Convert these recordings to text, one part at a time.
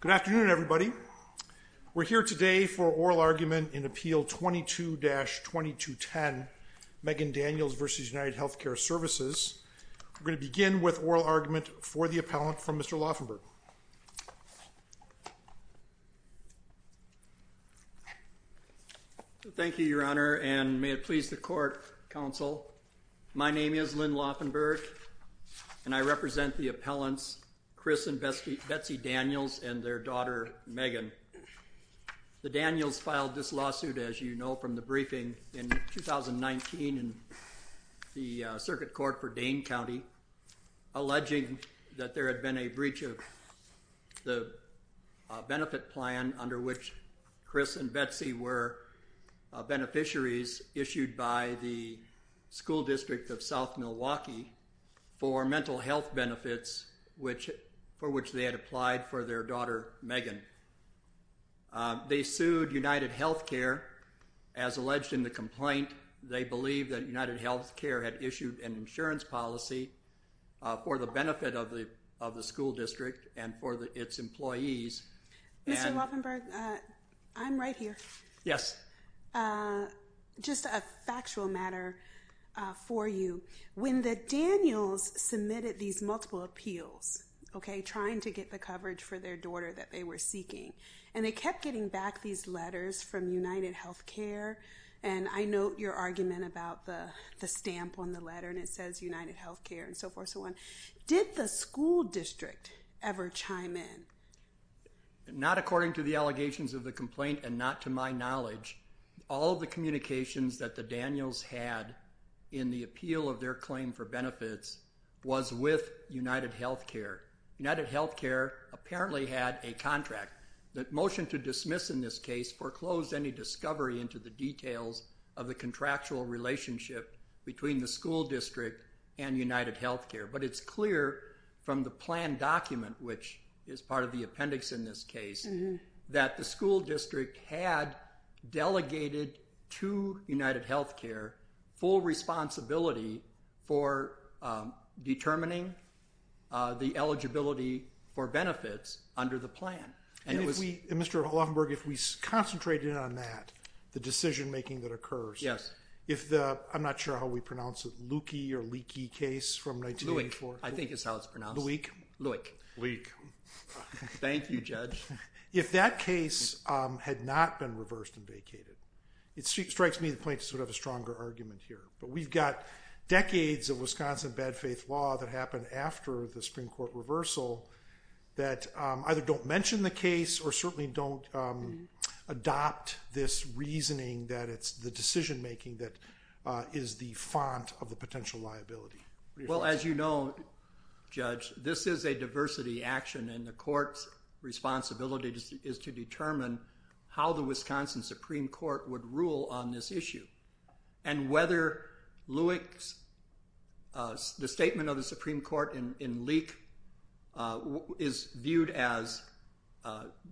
Good afternoon, everybody. We're here today for oral argument in Appeal 22-2210, Megan Daniels v. United Healthcare Services. We're going to begin with oral argument for the appellant from Mr. Lauffenburg. Thank you, Your Honor, and may it please the court, counsel. My name is Lynn Lauffenburg, and I represent the appellants, Chris and Betsy Daniels, and their daughter, Megan. The Daniels filed this lawsuit, as you know, from the briefing in 2019 in the Circuit Court for Dane County, alleging that there had been a breach of the benefit plan under which Chris and Betsy were beneficiaries issued by the School District of South Milwaukee for mental health benefits for which they had applied for their daughter, Megan. They sued United Healthcare. As alleged in the complaint, they believe that United Healthcare had issued an insurance policy for the benefit of the School District and for its employees. Mr. Lauffenburg, I'm right here. Yes. Just a factual matter for you. When the Daniels submitted these multiple appeals, okay, trying to get the coverage for their daughter that they were seeking, and they kept getting back these letters from United Healthcare, and I note your argument about the stamp on the letter, and it says United Healthcare, and so forth and so on. Did the School District ever chime in? Not according to the allegations of the complaint and not to my knowledge. All of the communications that the Daniels had in the appeal of their claim for benefits was with United Healthcare. United Healthcare apparently had a contract. The motion to dismiss in this case foreclosed any discovery into the details of the contractual relationship between the School District and United Healthcare, but it's clear from the plan document, which is part of the appendix in this case, that the School District had delegated to United Healthcare full responsibility for determining the eligibility for benefits under the plan. Mr. Lauffenburg, if we concentrate in on that, the decision making that occurs. Yes. I'm not sure how we pronounce it, Lukey or Leakey case from 1984? I think that's how it's pronounced. Lewek? Lewek. Lewek. Thank you, Judge. If that case had not been reversed and vacated, it strikes me the plaintiffs would have a stronger argument here, but we've got decades of Wisconsin bad faith law that happened after the Supreme Court reversal that either don't mention the case or certainly don't adopt this reasoning that it's the decision making that is the font of the potential liability. Well, as you know, Judge, this is a diversity action and the court's responsibility is to determine how the Wisconsin Supreme Court would rule on this issue. And whether Lewek's, the statement of the Supreme Court in Leake is viewed as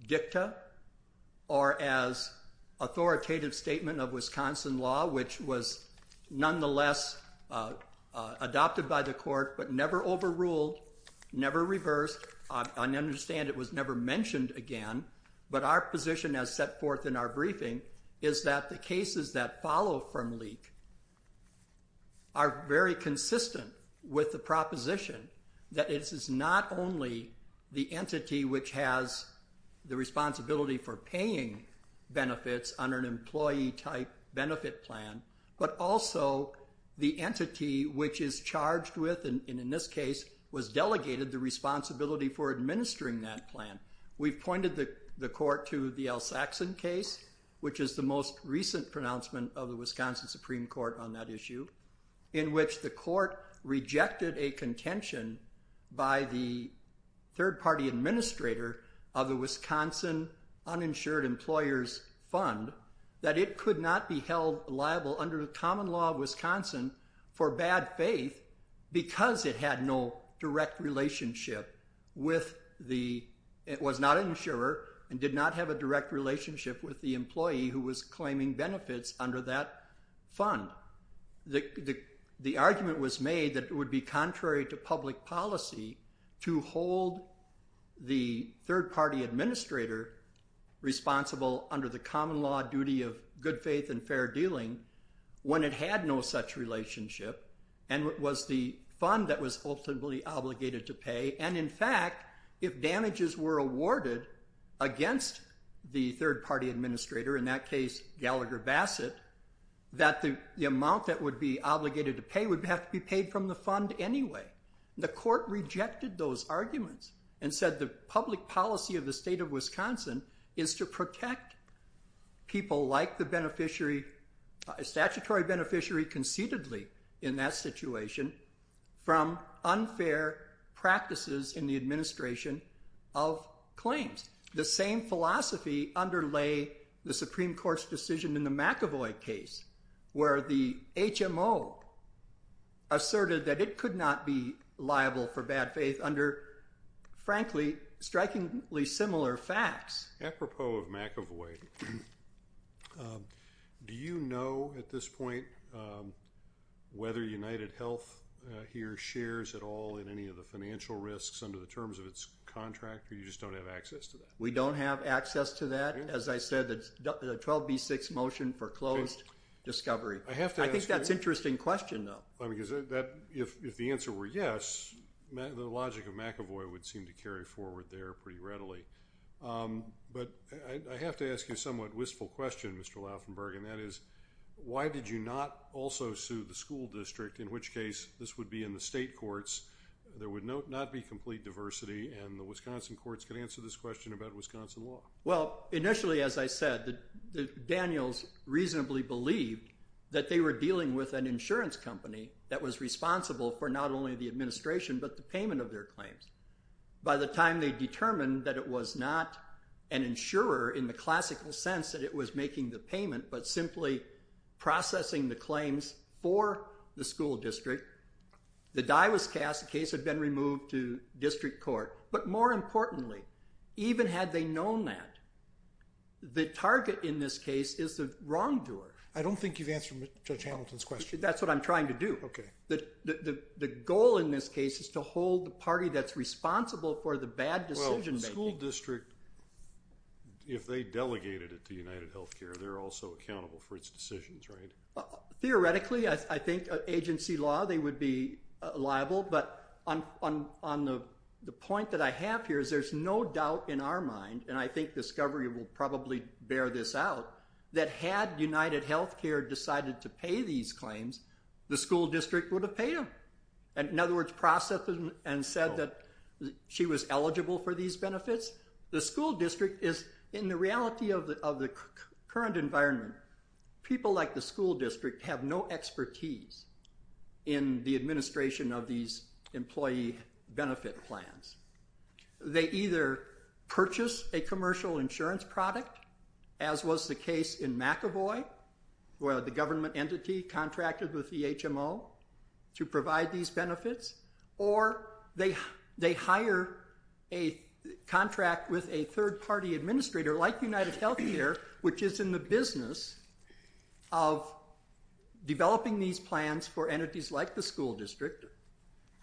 dicta or as authoritative statement of Wisconsin law, which was nonetheless adopted by the court, but never overruled, never reversed. I understand it was never mentioned again, but our position as set forth in our briefing is that the cases that follow from Leake are very consistent with the proposition that it is not only the entity which has the responsibility for paying benefits on an employee type benefit plan, but also the entity which is charged with, and in this case, was delegated the responsibility for paying benefits. We've pointed the court to the Al Saxon case, which is the most recent pronouncement of the Wisconsin Supreme Court on that issue, in which the court rejected a contention by the third party administrator of the Wisconsin Uninsured Employers Fund that it could not be held liable under the common law of Wisconsin for bad faith because it had no direct relationship to the Wisconsin Supreme Court. It was not an insurer and did not have a direct relationship with the employee who was claiming benefits under that fund. The argument was made that it would be contrary to public policy to hold the third party administrator responsible under the common law duty of good faith and fair dealing when it had no such relationship and was the fund that was ultimately obligated to pay. In fact, if damages were awarded against the third party administrator, in that case, Gallagher Bassett, that the amount that would be obligated to pay would have to be paid from the fund anyway. The court rejected those arguments and said the public policy of the state of Wisconsin is to protect people like the statutory beneficiary conceitedly in that situation from unfair practices in the administration of claims. The same philosophy underlay the Supreme Court's decision in the McEvoy case where the HMO asserted that it could not be liable for bad faith under, frankly, strikingly similar facts. Apropos of McEvoy, do you know at this point whether UnitedHealth here shares at all in any of the financial risks under the terms of its contract or you just don't have access to that? We don't have access to that. As I said, the 12B6 motion foreclosed discovery. I think that's an interesting question though. If the answer were yes, the logic of McEvoy would seem to carry forward there pretty readily. But I have to ask you a somewhat wistful question, Mr. Lauffenberg, and that is why did you not also sue the school district, in which case this would be in the state courts, there would not be complete diversity, and the Wisconsin courts could answer this question about Wisconsin law? Well, initially, as I said, Daniels reasonably believed that they were dealing with an insurance company that was responsible for not only the administration but the payment of their claims. By the time they determined that it was not an insurer in the classical sense that it was making the payment but simply processing the claims for the school district, the die was cast, the case had been removed to district court. But more importantly, even had they known that, the target in this case is the wrongdoer. I don't think you've answered Judge Hamilton's question. That's what I'm trying to do. Okay. The goal in this case is to hold the party that's responsible for the bad decision-making. Well, the school district, if they delegated it to UnitedHealthcare, they're also accountable for its decisions, right? Theoretically, I think agency law, they would be liable, but the point that I have here is there's no doubt in our mind, and I think discovery will probably bear this out, that had UnitedHealthcare decided to pay these claims, the school district would have paid them. In other words, processed them and said that she was eligible for these benefits. The school district is, in the reality of the current environment, people like the school district have no expertise in the administration of these employee benefit plans. They either purchase a commercial insurance product, as was the case in McEvoy, where the government entity contracted with the HMO to provide these benefits, or they hire a contract with a third-party administrator like UnitedHealthcare, which is in the business of developing these plans for entities like the school district,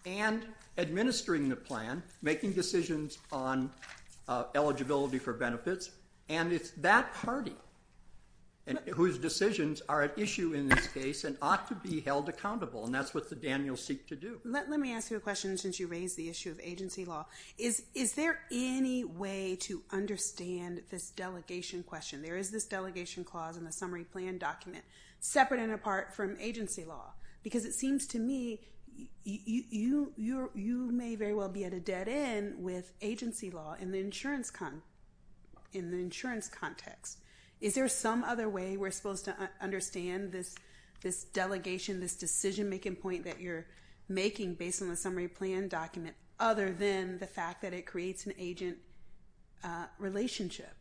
and administering the plan, making decisions on eligibility for benefits, and it's that party whose decisions are at issue in this case and ought to be held accountable, and that's what the Daniels seek to do. Let me ask you a question, since you raised the issue of agency law. Is there any way to understand this delegation question? There is this delegation clause in the summary plan document, separate and apart from agency law, because it seems to me you may very well be at a dead end with agency law in the insurance context. Is there some other way we're supposed to understand this delegation, this decision-making point that you're making based on the summary plan document, other than the fact that it creates an agent relationship?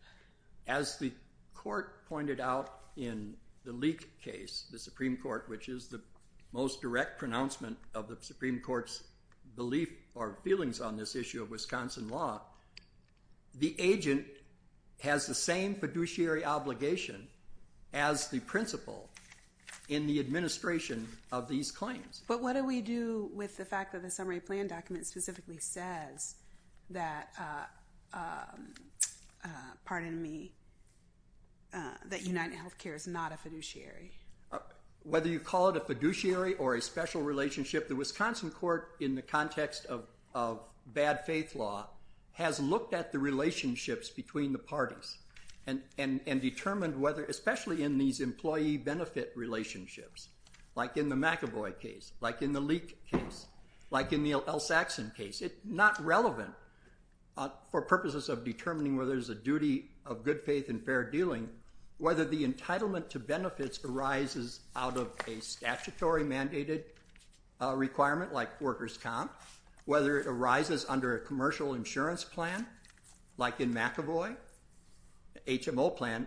As the court pointed out in the Leek case, the Supreme Court, which is the most direct pronouncement of the Supreme Court's belief or feelings on this issue of Wisconsin law, the agent has the same fiduciary obligation as the principal in the administration of these claims. But what do we do with the fact that the summary plan document specifically says that UnitedHealthcare is not a fiduciary? Whether you call it a fiduciary or a special relationship, the Wisconsin court, in the context of bad faith law, has looked at the relationships between the parties and determined whether, especially in these employee benefit relationships, like in the McEvoy case, like in the Leek case, like in the L. Saxon case, it's not relevant for purposes of determining whether there's a duty of good faith and fair dealing, whether the entitlement to benefits arises out of a statutory mandated requirement, like workers' comp, whether it arises under a commercial insurance plan, like in McEvoy, HMO plan,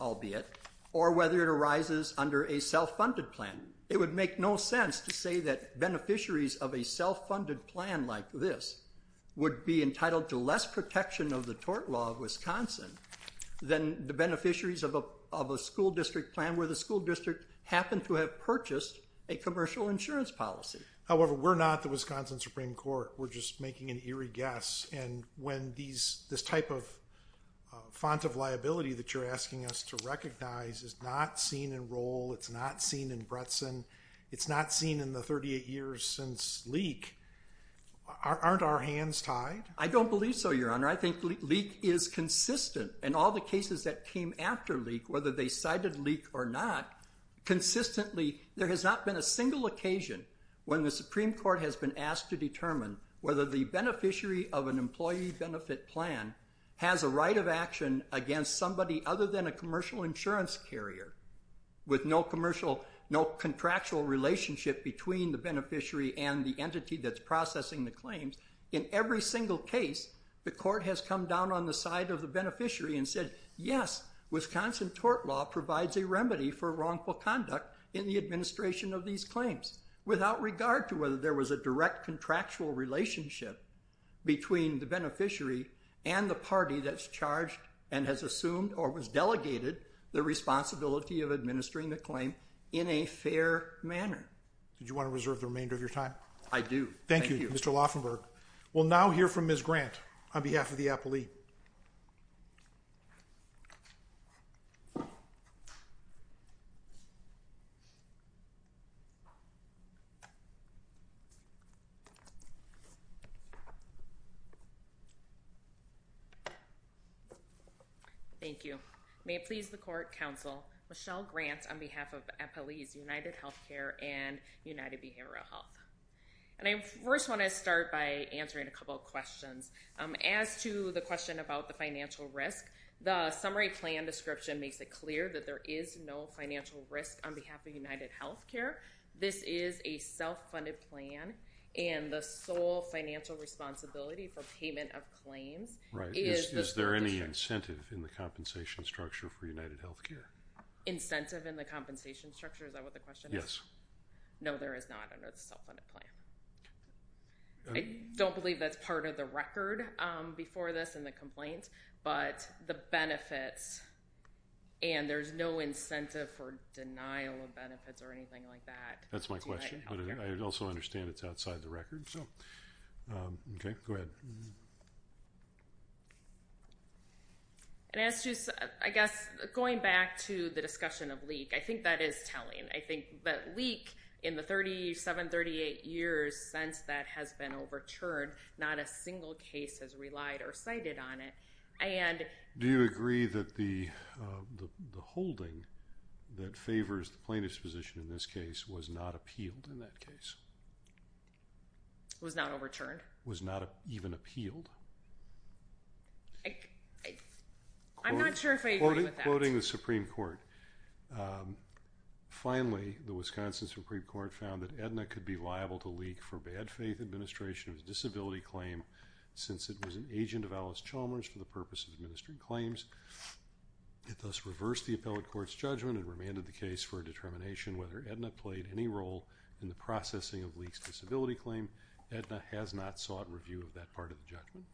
albeit, or whether it arises under a self-funded plan. It would make no sense to say that beneficiaries of a self-funded plan like this would be entitled to less protection of the tort law of Wisconsin than the beneficiaries of a school district plan where the school district happened to have purchased a commercial insurance policy. However, we're not the Wisconsin Supreme Court. We're just making an eerie guess. And when this type of font of liability that you're asking us to recognize is not seen in Roll, it's not seen in Bretson, it's not seen in the 38 years since Leek, aren't our hands tied? I don't believe so, Your Honor. I think Leek is consistent. In all the cases that came after Leek, whether they cited Leek or not, consistently there has not been a single occasion when the Supreme Court has been asked to determine whether the beneficiary of an employee benefit plan has a right of action against somebody other than a commercial insurance carrier with no commercial, no contractual relationship between the beneficiary and the entity that's processing the claims. In every single case, the court has come down on the side of the beneficiary and said, yes, Wisconsin tort law provides a remedy for wrongful conduct in the administration of these claims without regard to whether there was a direct contractual relationship between the beneficiary and the party that's charged and has assumed or was delegated the responsibility of administering the claim in a fair manner. Did you want to reserve the remainder of your time? I do. Thank you. Thank you, Mr. Lauffenberg. We'll now hear from Ms. Grant on behalf of the APLE. Thank you. May it please the court, counsel, Michelle Grant on behalf of APLE's UnitedHealthcare and UnitedBehavioralHealth. And I first want to start by answering a couple of questions. As to the question about the financial risk, the summary plan description makes it clear that there is no financial risk on behalf of UnitedHealthcare. This is a self-funded plan, and the sole financial responsibility for payment of claims is the district. Is there any incentive in the compensation structure for UnitedHealthcare? Incentive in the compensation structure? Is that what the question is? Yes. No, there is not under the self-funded plan. I don't believe that's part of the record before this in the complaint, but the benefits, and there's no incentive for denial of benefits or anything like that. That's my question, but I also understand it's outside the record. Okay, go ahead. And as to, I guess, going back to the discussion of leak, I think that is telling. I think that leak in the 37, 38 years since that has been overturned, not a single case has relied or cited on it. Do you agree that the holding that favors the plaintiff's position in this case was not appealed in that case? Was not overturned. Was not even appealed. I'm not sure if I agree with that. Quoting the Supreme Court, finally, the Wisconsin Supreme Court found that AEDNA could be liable to leak for bad faith administration of a disability claim since it was an agent of Alice Chalmers for the purpose of administering claims. It thus reversed the appellate court's judgment and remanded the case for a determination whether AEDNA played any role in the processing of leak's disability claim. AEDNA has not sought review of that part of the judgment.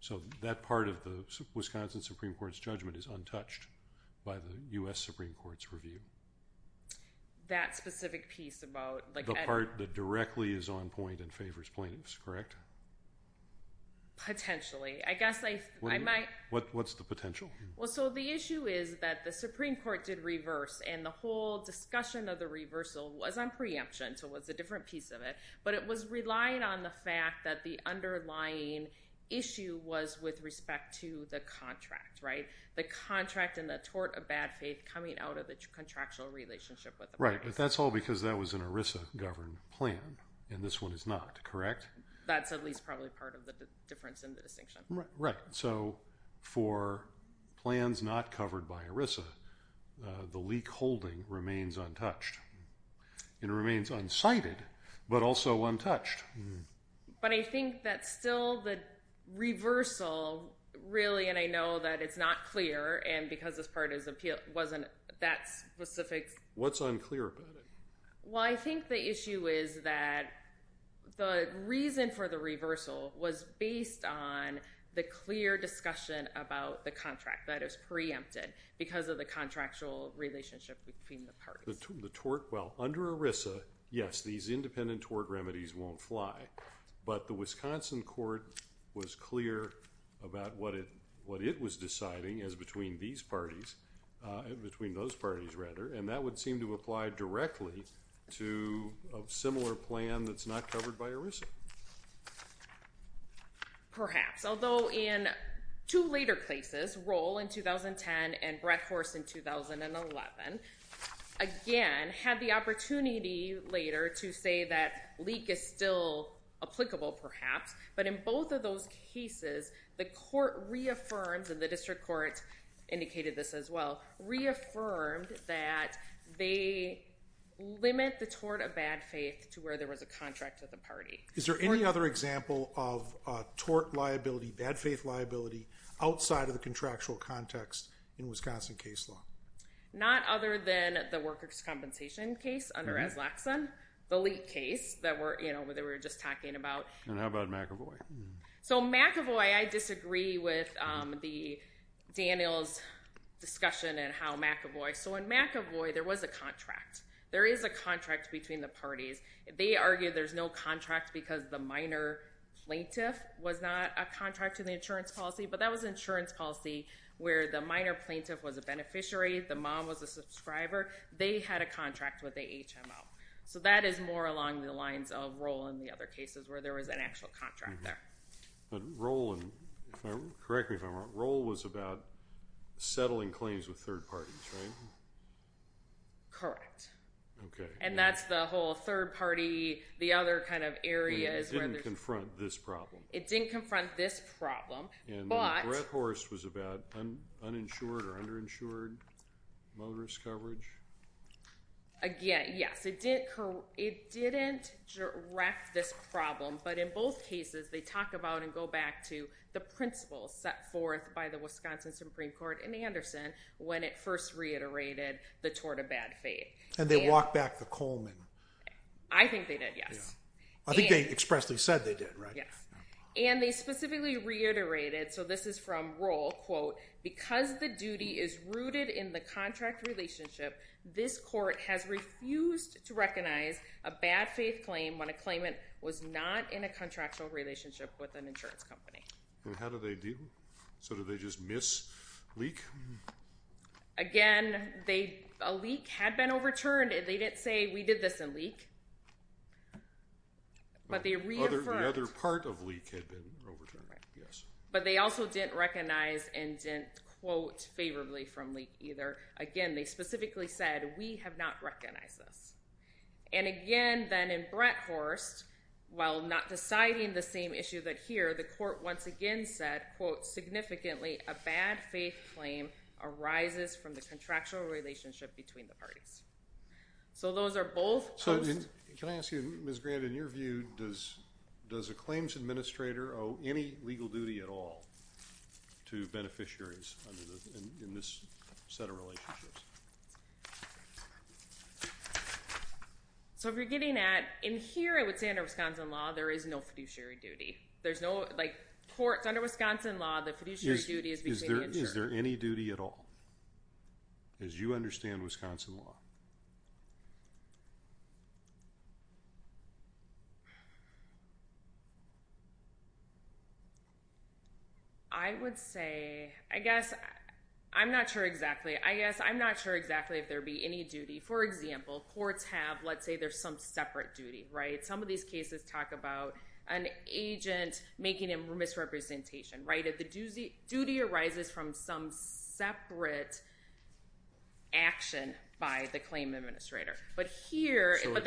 So that part of the Wisconsin Supreme Court's judgment is untouched by the U.S. Supreme Court's review. That specific piece about, like AEDNA. The part that directly is on point and favors plaintiffs, correct? Potentially. I guess I might. What's the potential? Well, so the issue is that the Supreme Court did reverse, and the whole discussion of the reversal was on preemption, so it was a different piece of it. But it was relying on the fact that the underlying issue was with respect to the contract, right? The contract and the tort of bad faith coming out of the contractual relationship with the plaintiff. Right, but that's all because that was an ERISA-governed plan, and this one is not, correct? That's at least probably part of the difference in the distinction. Right, so for plans not covered by ERISA, the leak holding remains untouched. It remains unsighted, but also untouched. But I think that still the reversal really, and I know that it's not clear, and because this part wasn't that specific. What's unclear about it? Well, I think the issue is that the reason for the reversal was based on the clear discussion about the contract that is preempted because of the contractual relationship between the parties. The tort, well, under ERISA, yes, these independent tort remedies won't fly. But the Wisconsin court was clear about what it was deciding as between these parties, between those parties rather, and that would seem to apply directly to a similar plan that's not covered by ERISA. Perhaps, although in two later places, Roll in 2010 and Breckhorst in 2011, again, had the opportunity later to say that leak is still applicable, perhaps. But in both of those cases, the court reaffirmed, and the district court indicated this as well, reaffirmed that they limit the tort of bad faith to where there was a contract to the party. Is there any other example of tort liability, bad faith liability, outside of the contractual context in Wisconsin case law? Not other than the workers' compensation case under Azlaxan, the leak case that we were just talking about. And how about McAvoy? So McAvoy, I disagree with Daniel's discussion and how McAvoy. So in McAvoy, there was a contract. There is a contract between the parties. They argue there's no contract because the minor plaintiff was not a contract to the insurance policy, but that was insurance policy where the minor plaintiff was a beneficiary, the mom was a subscriber. They had a contract with the HMO. So that is more along the lines of Roll and the other cases where there was an actual contract there. But Roll, and correct me if I'm wrong, Roll was about settling claims with third parties, right? Correct. Okay. And that's the whole third party, the other kind of areas where there's- It didn't confront this problem. It didn't confront this problem, but- And Breath Horse was about uninsured or underinsured motorist coverage? Again, yes. It didn't direct this problem, but in both cases, they talk about and go back to the principles set forth by the Wisconsin Supreme Court in Anderson when it first reiterated the tort of bad faith. And they walked back the Coleman. I think they did, yes. I think they expressly said they did, right? Yes. And they specifically reiterated, so this is from Roll, quote, because the duty is rooted in the contract relationship, this court has refused to recognize a bad faith claim when a claimant was not in a contractual relationship with an insurance company. And how do they deal? So do they just miss, leak? Again, a leak had been overturned. They didn't say, we did this in leak, but they reaffirmed- The other part of leak had been overturned, yes. But they also didn't recognize and didn't quote favorably from leak either. Again, they specifically said, we have not recognized this. And again, then in Breath Horse, while not deciding the same issue that here, the court once again said, quote, significantly a bad faith claim arises from the contractual relationship between the parties. So those are both- So can I ask you, Ms. Grant, in your view, does a claims administrator owe any legal duty at all to beneficiaries in this set of relationships? So if you're getting at- In here, I would say under Wisconsin law, there is no fiduciary duty. There's no- Like courts under Wisconsin law, the fiduciary duty is between the insurer. Is there any duty at all, as you understand Wisconsin law? I would say, I guess, I'm not sure exactly. I guess I'm not sure exactly if there would be any duty. For example, courts have, let's say there's some separate duty, right? Some of these cases talk about an agent making a misrepresentation, right? If the duty arises from some separate action by the claim administrator. But here- So a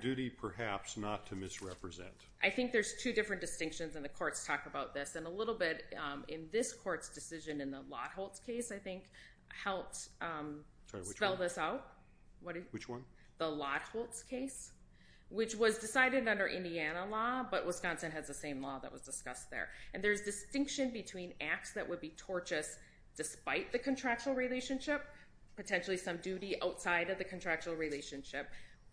duty perhaps not to misrepresent. I think there's two different distinctions, and the courts talk about this. And a little bit in this court's decision in the Lotholtz case, I think, helped spell this out. Which one? The Lotholtz case. Which was decided under Indiana law, but Wisconsin has the same law that was discussed there. And there's distinction between acts that would be tortious despite the contractual relationship, potentially some duty outside of the contractual relationship,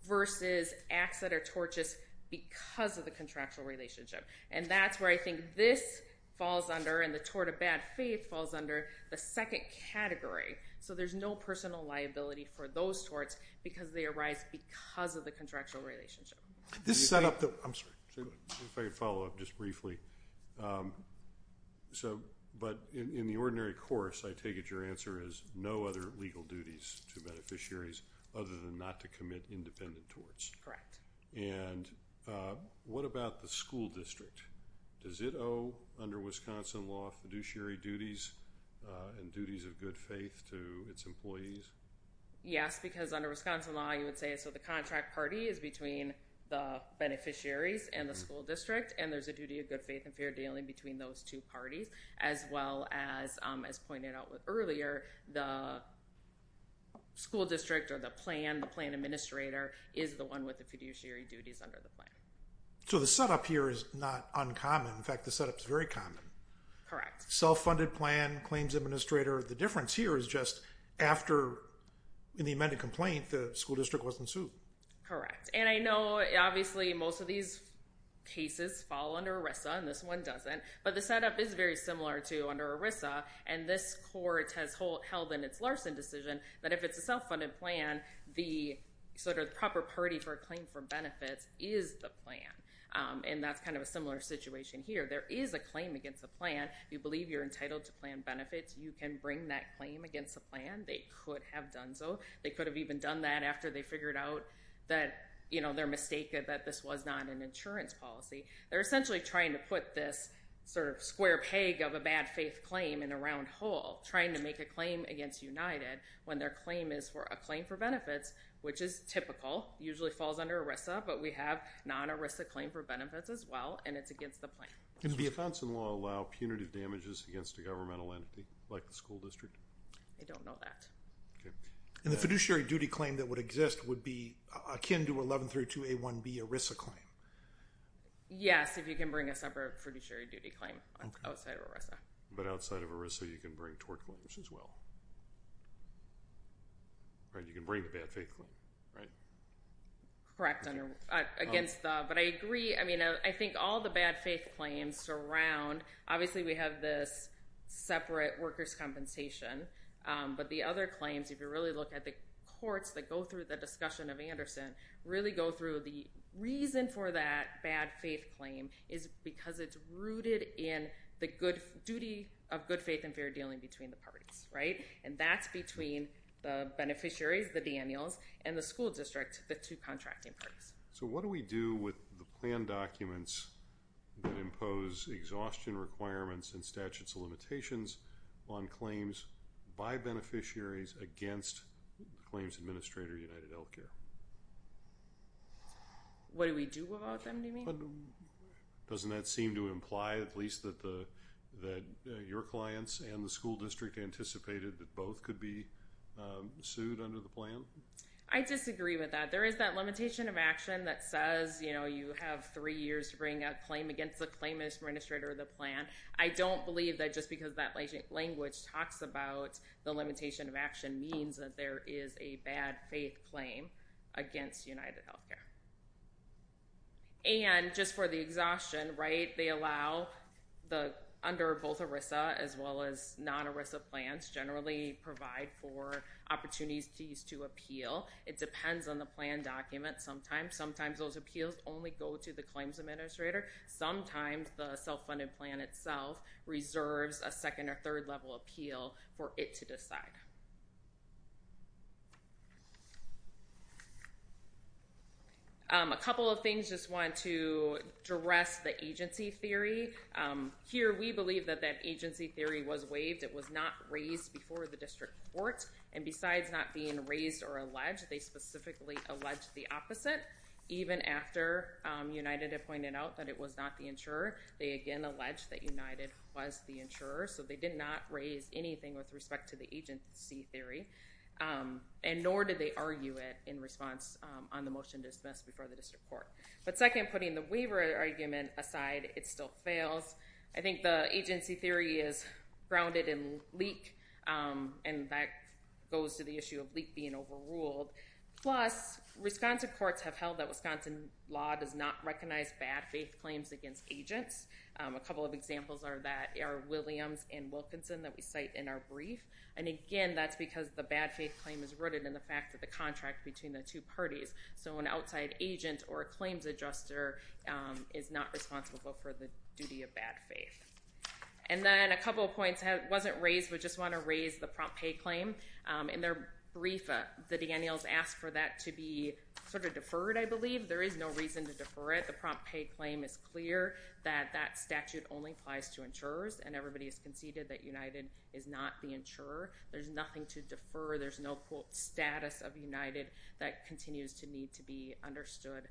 versus acts that are tortious because of the contractual relationship. And that's where I think this falls under, and the tort of bad faith falls under, the second category. So there's no personal liability for those torts because they arise because of the contractual relationship. This set up the- I'm sorry. If I could follow up just briefly. But in the ordinary course, I take it your answer is no other legal duties to beneficiaries other than not to commit independent torts. Correct. And what about the school district? Does it owe, under Wisconsin law, fiduciary duties and duties of good faith to its employees? Yes, because under Wisconsin law, you would say so the contract party is between the beneficiaries and the school district, and there's a duty of good faith and fair dealing between those two parties, as well as, as pointed out earlier, the school district or the plan, the plan administrator, is the one with the fiduciary duties under the plan. So the setup here is not uncommon. In fact, the setup is very common. Correct. Self-funded plan, claims administrator. The difference here is just after, in the amended complaint, the school district wasn't sued. Correct. And I know, obviously, most of these cases fall under ERISA, and this one doesn't. But the setup is very similar to under ERISA, and this court has held in its Larson decision that if it's a self-funded plan, the sort of proper party for a claim for benefits is the plan, and that's kind of a similar situation here. There is a claim against the plan. If you believe you're entitled to plan benefits, you can bring that claim against the plan. They could have done so. They could have even done that after they figured out that, you know, they're mistaken, that this was not an insurance policy. They're essentially trying to put this sort of square peg of a bad faith claim in a round hole, trying to make a claim against United when their claim is for a claim for benefits, which is typical, usually falls under ERISA. But we have non-ERISA claim for benefits as well, and it's against the plan. Can the Johnson law allow punitive damages against a governmental entity like the school district? I don't know that. Okay. And the fiduciary duty claim that would exist would be akin to 1132A1B ERISA claim? Yes, if you can bring a separate fiduciary duty claim outside of ERISA. But outside of ERISA, you can bring tort claims as well, right? You can bring the bad faith claim, right? Correct, against the, but I agree. I mean, I think all the bad faith claims surround, obviously, we have this separate workers' compensation, but the other claims, if you really look at the courts that go through the discussion of Anderson, really go through the reason for that bad faith claim is because it's rooted in the duty of good faith and fair dealing between the parties, right? And that's between the beneficiaries, the Daniels, and the school district, the two contracting parties. So, what do we do with the plan documents that impose exhaustion requirements and statutes of limitations on claims by beneficiaries against the claims administrator, UnitedHealthcare? What do we do about them, do you mean? Doesn't that seem to imply, at least, that your clients and the school district anticipated that both could be sued under the plan? I disagree with that. There is that limitation of action that says, you know, you have three years to bring a claim against the claim administrator of the plan. I don't believe that just because that language talks about the limitation of action means that there is a bad faith claim against UnitedHealthcare. And just for the exhaustion, right, they allow, under both ERISA as well as non-ERISA plans, generally provide for opportunities to appeal. It depends on the plan document sometimes. Sometimes those appeals only go to the claims administrator. Sometimes the self-funded plan itself reserves a second or third level appeal for it to decide. A couple of things, just wanted to address the agency theory. Here, we believe that that agency theory was waived. It was not raised before the district court. And besides not being raised or alleged, they specifically alleged the opposite. Even after United had pointed out that it was not the insurer, they again alleged that United was the insurer. So they did not raise anything with respect to the agency theory. And nor did they argue it in response on the motion dismissed before the district court. But second, putting the waiver argument aside, it still fails. I think the agency theory is grounded in leak. And that goes to the issue of leak being overruled. Plus, Wisconsin courts have held that Wisconsin law does not recognize bad faith claims against agents. A couple of examples are that Williams and Wilkinson that we cite in our brief. And again, that's because the bad faith claim is rooted in the fact that the contract between the two parties. So an outside agent or a claims adjuster is not responsible for the duty of bad faith. And then a couple of points. It wasn't raised, but just want to raise the prompt pay claim. In their brief, the Daniels asked for that to be sort of deferred, I believe. There is no reason to defer it. The prompt pay claim is clear that that statute only applies to insurers. And everybody has conceded that United is not the insurer. There's nothing to defer. There's no quote status of United that continues to need to be understood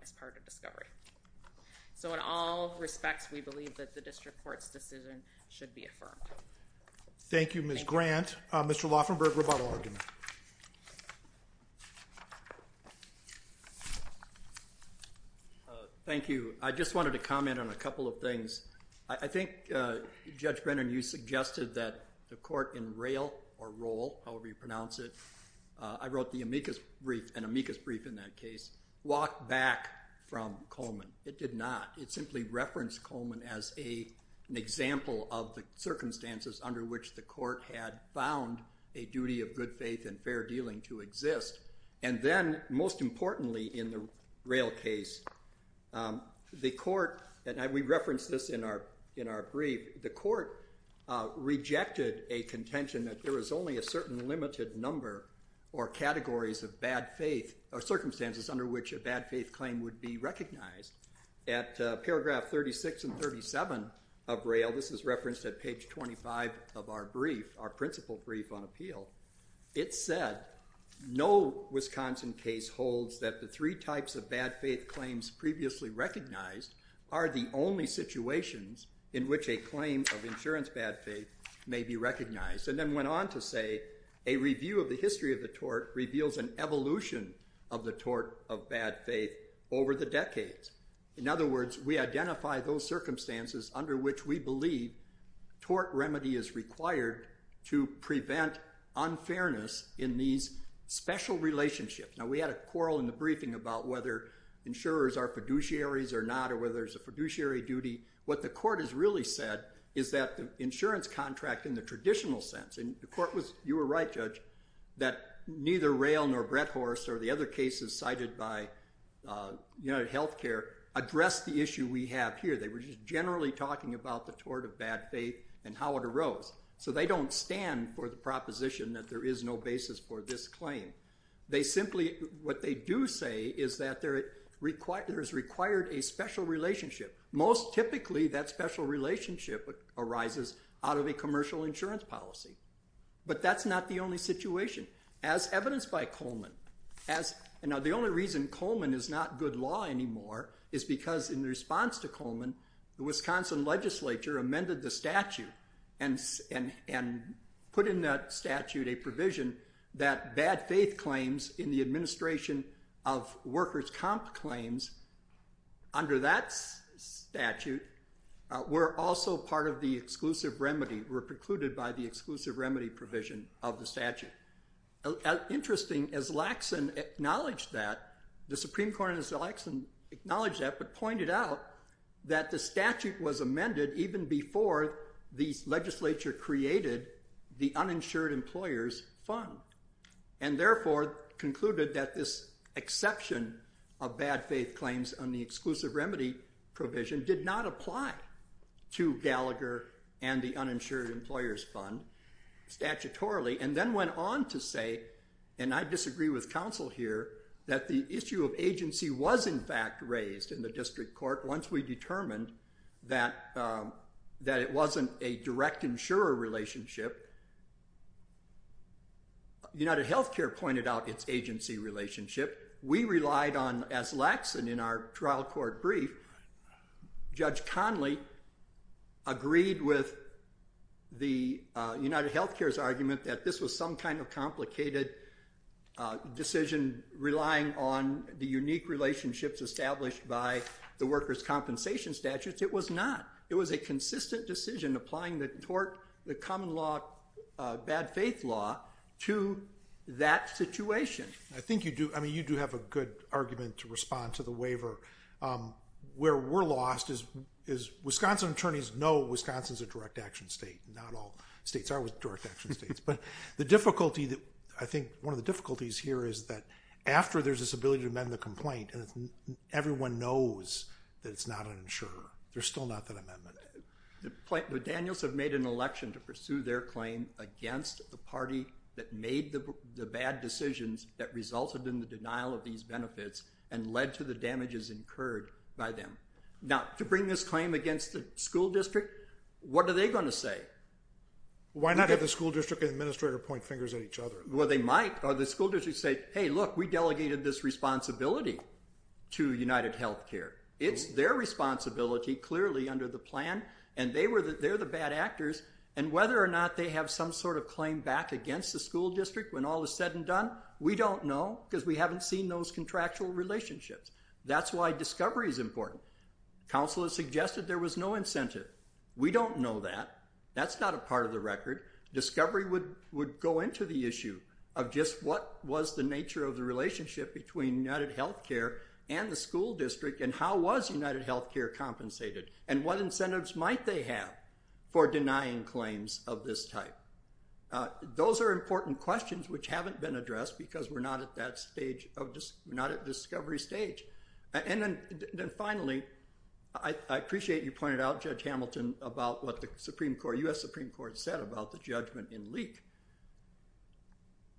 as part of discovery. So in all respects, we believe that the district court's decision should be affirmed. Thank you, Ms. Grant. Mr. Lauffenberg, rebuttal argument. Thank you. I just wanted to comment on a couple of things. I think Judge Brennan, you suggested that the court in Roehl, however you pronounce it, I wrote an amicus brief in that case, walked back from Coleman. It did not. It simply referenced Coleman as an example of the circumstances under which the court had found a duty of good faith and fair dealing to exist. And then, most importantly in the Roehl case, the court, and we referenced this in our brief, the court rejected a contention that there was only a certain limited number or categories of bad faith or circumstances under which a bad faith claim would be recognized. At paragraph 36 and 37 of Roehl, this is referenced at page 25 of our brief, our principal brief on appeal, it said, no Wisconsin case holds that the three types of bad faith claims previously recognized are the only situations in which a claim of insurance bad faith may be recognized. And then went on to say, a review of the history of the tort reveals an evolution of the tort of bad faith over the decades. In other words, we identify those circumstances under which we believe tort remedy is required to prevent unfairness in these special relationships. Now, we had a quarrel in the briefing about whether insurers are fiduciaries or not or whether it's a fiduciary duty. What the court has really said is that the insurance contract in the traditional sense, and the court was, you were right, Judge, that neither Roehl nor Bretthorst or the other cases cited by UnitedHealthcare address the issue we have here. They were just generally talking about the tort of bad faith and how it arose. So they don't stand for the proposition that there is no basis for this claim. They simply, what they do say is that there is required a special relationship. Most typically, that special relationship arises out of a commercial insurance policy. But that's not the only situation. As evidenced by Coleman. Now, the only reason Coleman is not good law anymore is because in response to Coleman, the Wisconsin legislature amended the statute and put in that statute a provision that bad faith claims in the administration of workers' comp claims, under that statute, were also part of the exclusive remedy, were precluded by the exclusive remedy provision of the statute. Interesting, as Laxon acknowledged that, the Supreme Court, as Laxon acknowledged that, but pointed out that the statute was amended even before the legislature created the Uninsured Employers Fund. And therefore, concluded that this exception of bad faith claims on the exclusive remedy provision did not apply to Gallagher and the Uninsured Employers Fund statutorily. And then went on to say, and I disagree with counsel here, that the issue of agency was in fact raised in the district court once we determined that it wasn't a direct insurer relationship. UnitedHealthcare pointed out its agency relationship. We relied on, as Laxon in our trial court brief, Judge Conley agreed with the UnitedHealthcare's argument that this was some kind of complicated decision relying on the unique relationships established by the workers' compensation statutes. It was not. It was a consistent decision applying the tort, the common law, bad faith law to that situation. I think you do, I mean you do have a good argument to respond to the waiver. Where we're lost is Wisconsin attorneys know Wisconsin's a direct action state. Not all states are direct action states. I think one of the difficulties here is that after there's this ability to amend the complaint, everyone knows that it's not an insurer. There's still not that amendment. The Daniels have made an election to pursue their claim against the party that made the bad decisions that resulted in the denial of these benefits and led to the damages incurred by them. Now, to bring this claim against the school district, what are they going to say? Why not have the school district administrator point fingers at each other? Well, they might. Or the school district say, hey, look, we delegated this responsibility to UnitedHealthcare. It's their responsibility clearly under the plan, and they're the bad actors. And whether or not they have some sort of claim back against the school district when all is said and done, we don't know because we haven't seen those contractual relationships. That's why discovery is important. Counsel has suggested there was no incentive. We don't know that. That's not a part of the record. Discovery would go into the issue of just what was the nature of the relationship between UnitedHealthcare and the school district, and how was UnitedHealthcare compensated? And what incentives might they have for denying claims of this type? Those are important questions which haven't been addressed because we're not at that stage of discovery stage. And then finally, I appreciate you pointed out, Judge Hamilton, about what the Supreme Court, U.S. Supreme Court, said about the judgment in Leek.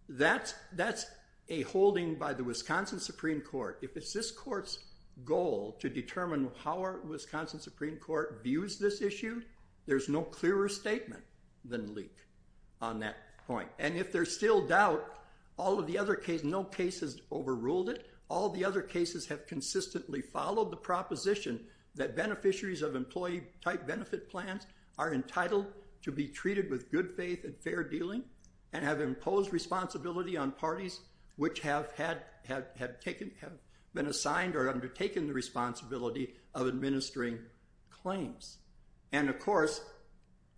That's a holding by the Wisconsin Supreme Court. If it's this court's goal to determine how our Wisconsin Supreme Court views this issue, there's no clearer statement than Leek on that point. And if there's still doubt, no case has overruled it. All the other cases have consistently followed the proposition that beneficiaries of employee-type benefit plans are entitled to be treated with good faith and fair dealing, and have imposed responsibility on parties which have been assigned or undertaken the responsibility of administering claims. And of course,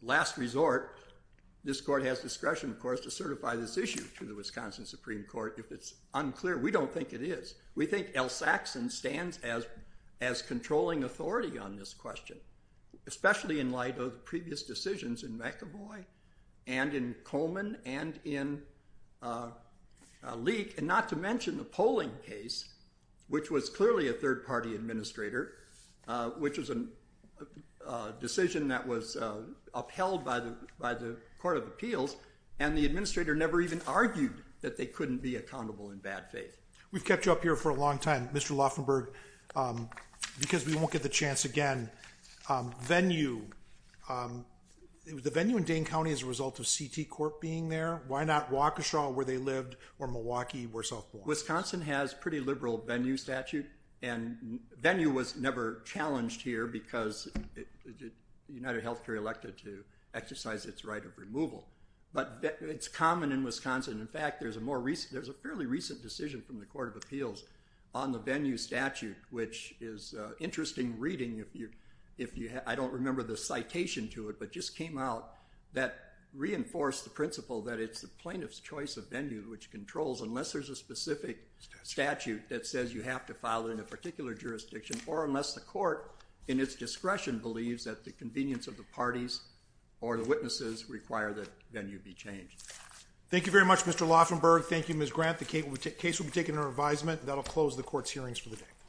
last resort, this court has discretion, of course, to certify this issue to the Wisconsin Supreme Court if it's unclear. We don't think it is. We think L. Saxon stands as controlling authority on this question, especially in light of the previous decisions in McEvoy and in Coleman and in Leek, and not to mention the polling case, which was clearly a third-party administrator, which was a decision that was upheld by the Court of Appeals, and the administrator never even argued that they couldn't be accountable in bad faith. We've kept you up here for a long time, Mr. Lauffenberg, because we won't get the chance again. Venue. The venue in Dane County is a result of CT Court being there. Why not Waukesha, where they lived, or Milwaukee, where South Point? Wisconsin has pretty liberal venue statute, and venue was never challenged here because UnitedHealthcare elected to exercise its right of removal. But it's common in Wisconsin. In fact, there's a fairly recent decision from the Court of Appeals on the venue statute, which is an interesting reading. I don't remember the citation to it, but it just came out that reinforced the principle that it's the plaintiff's choice of venue, which controls unless there's a specific statute that says you have to file it in a particular jurisdiction, or unless the court, in its discretion, believes that the convenience of the parties or the witnesses require that venue be changed. Thank you very much, Mr. Lauffenberg. Thank you, Ms. Grant. The case will be taken under advisement. That will close the court's hearings for the day.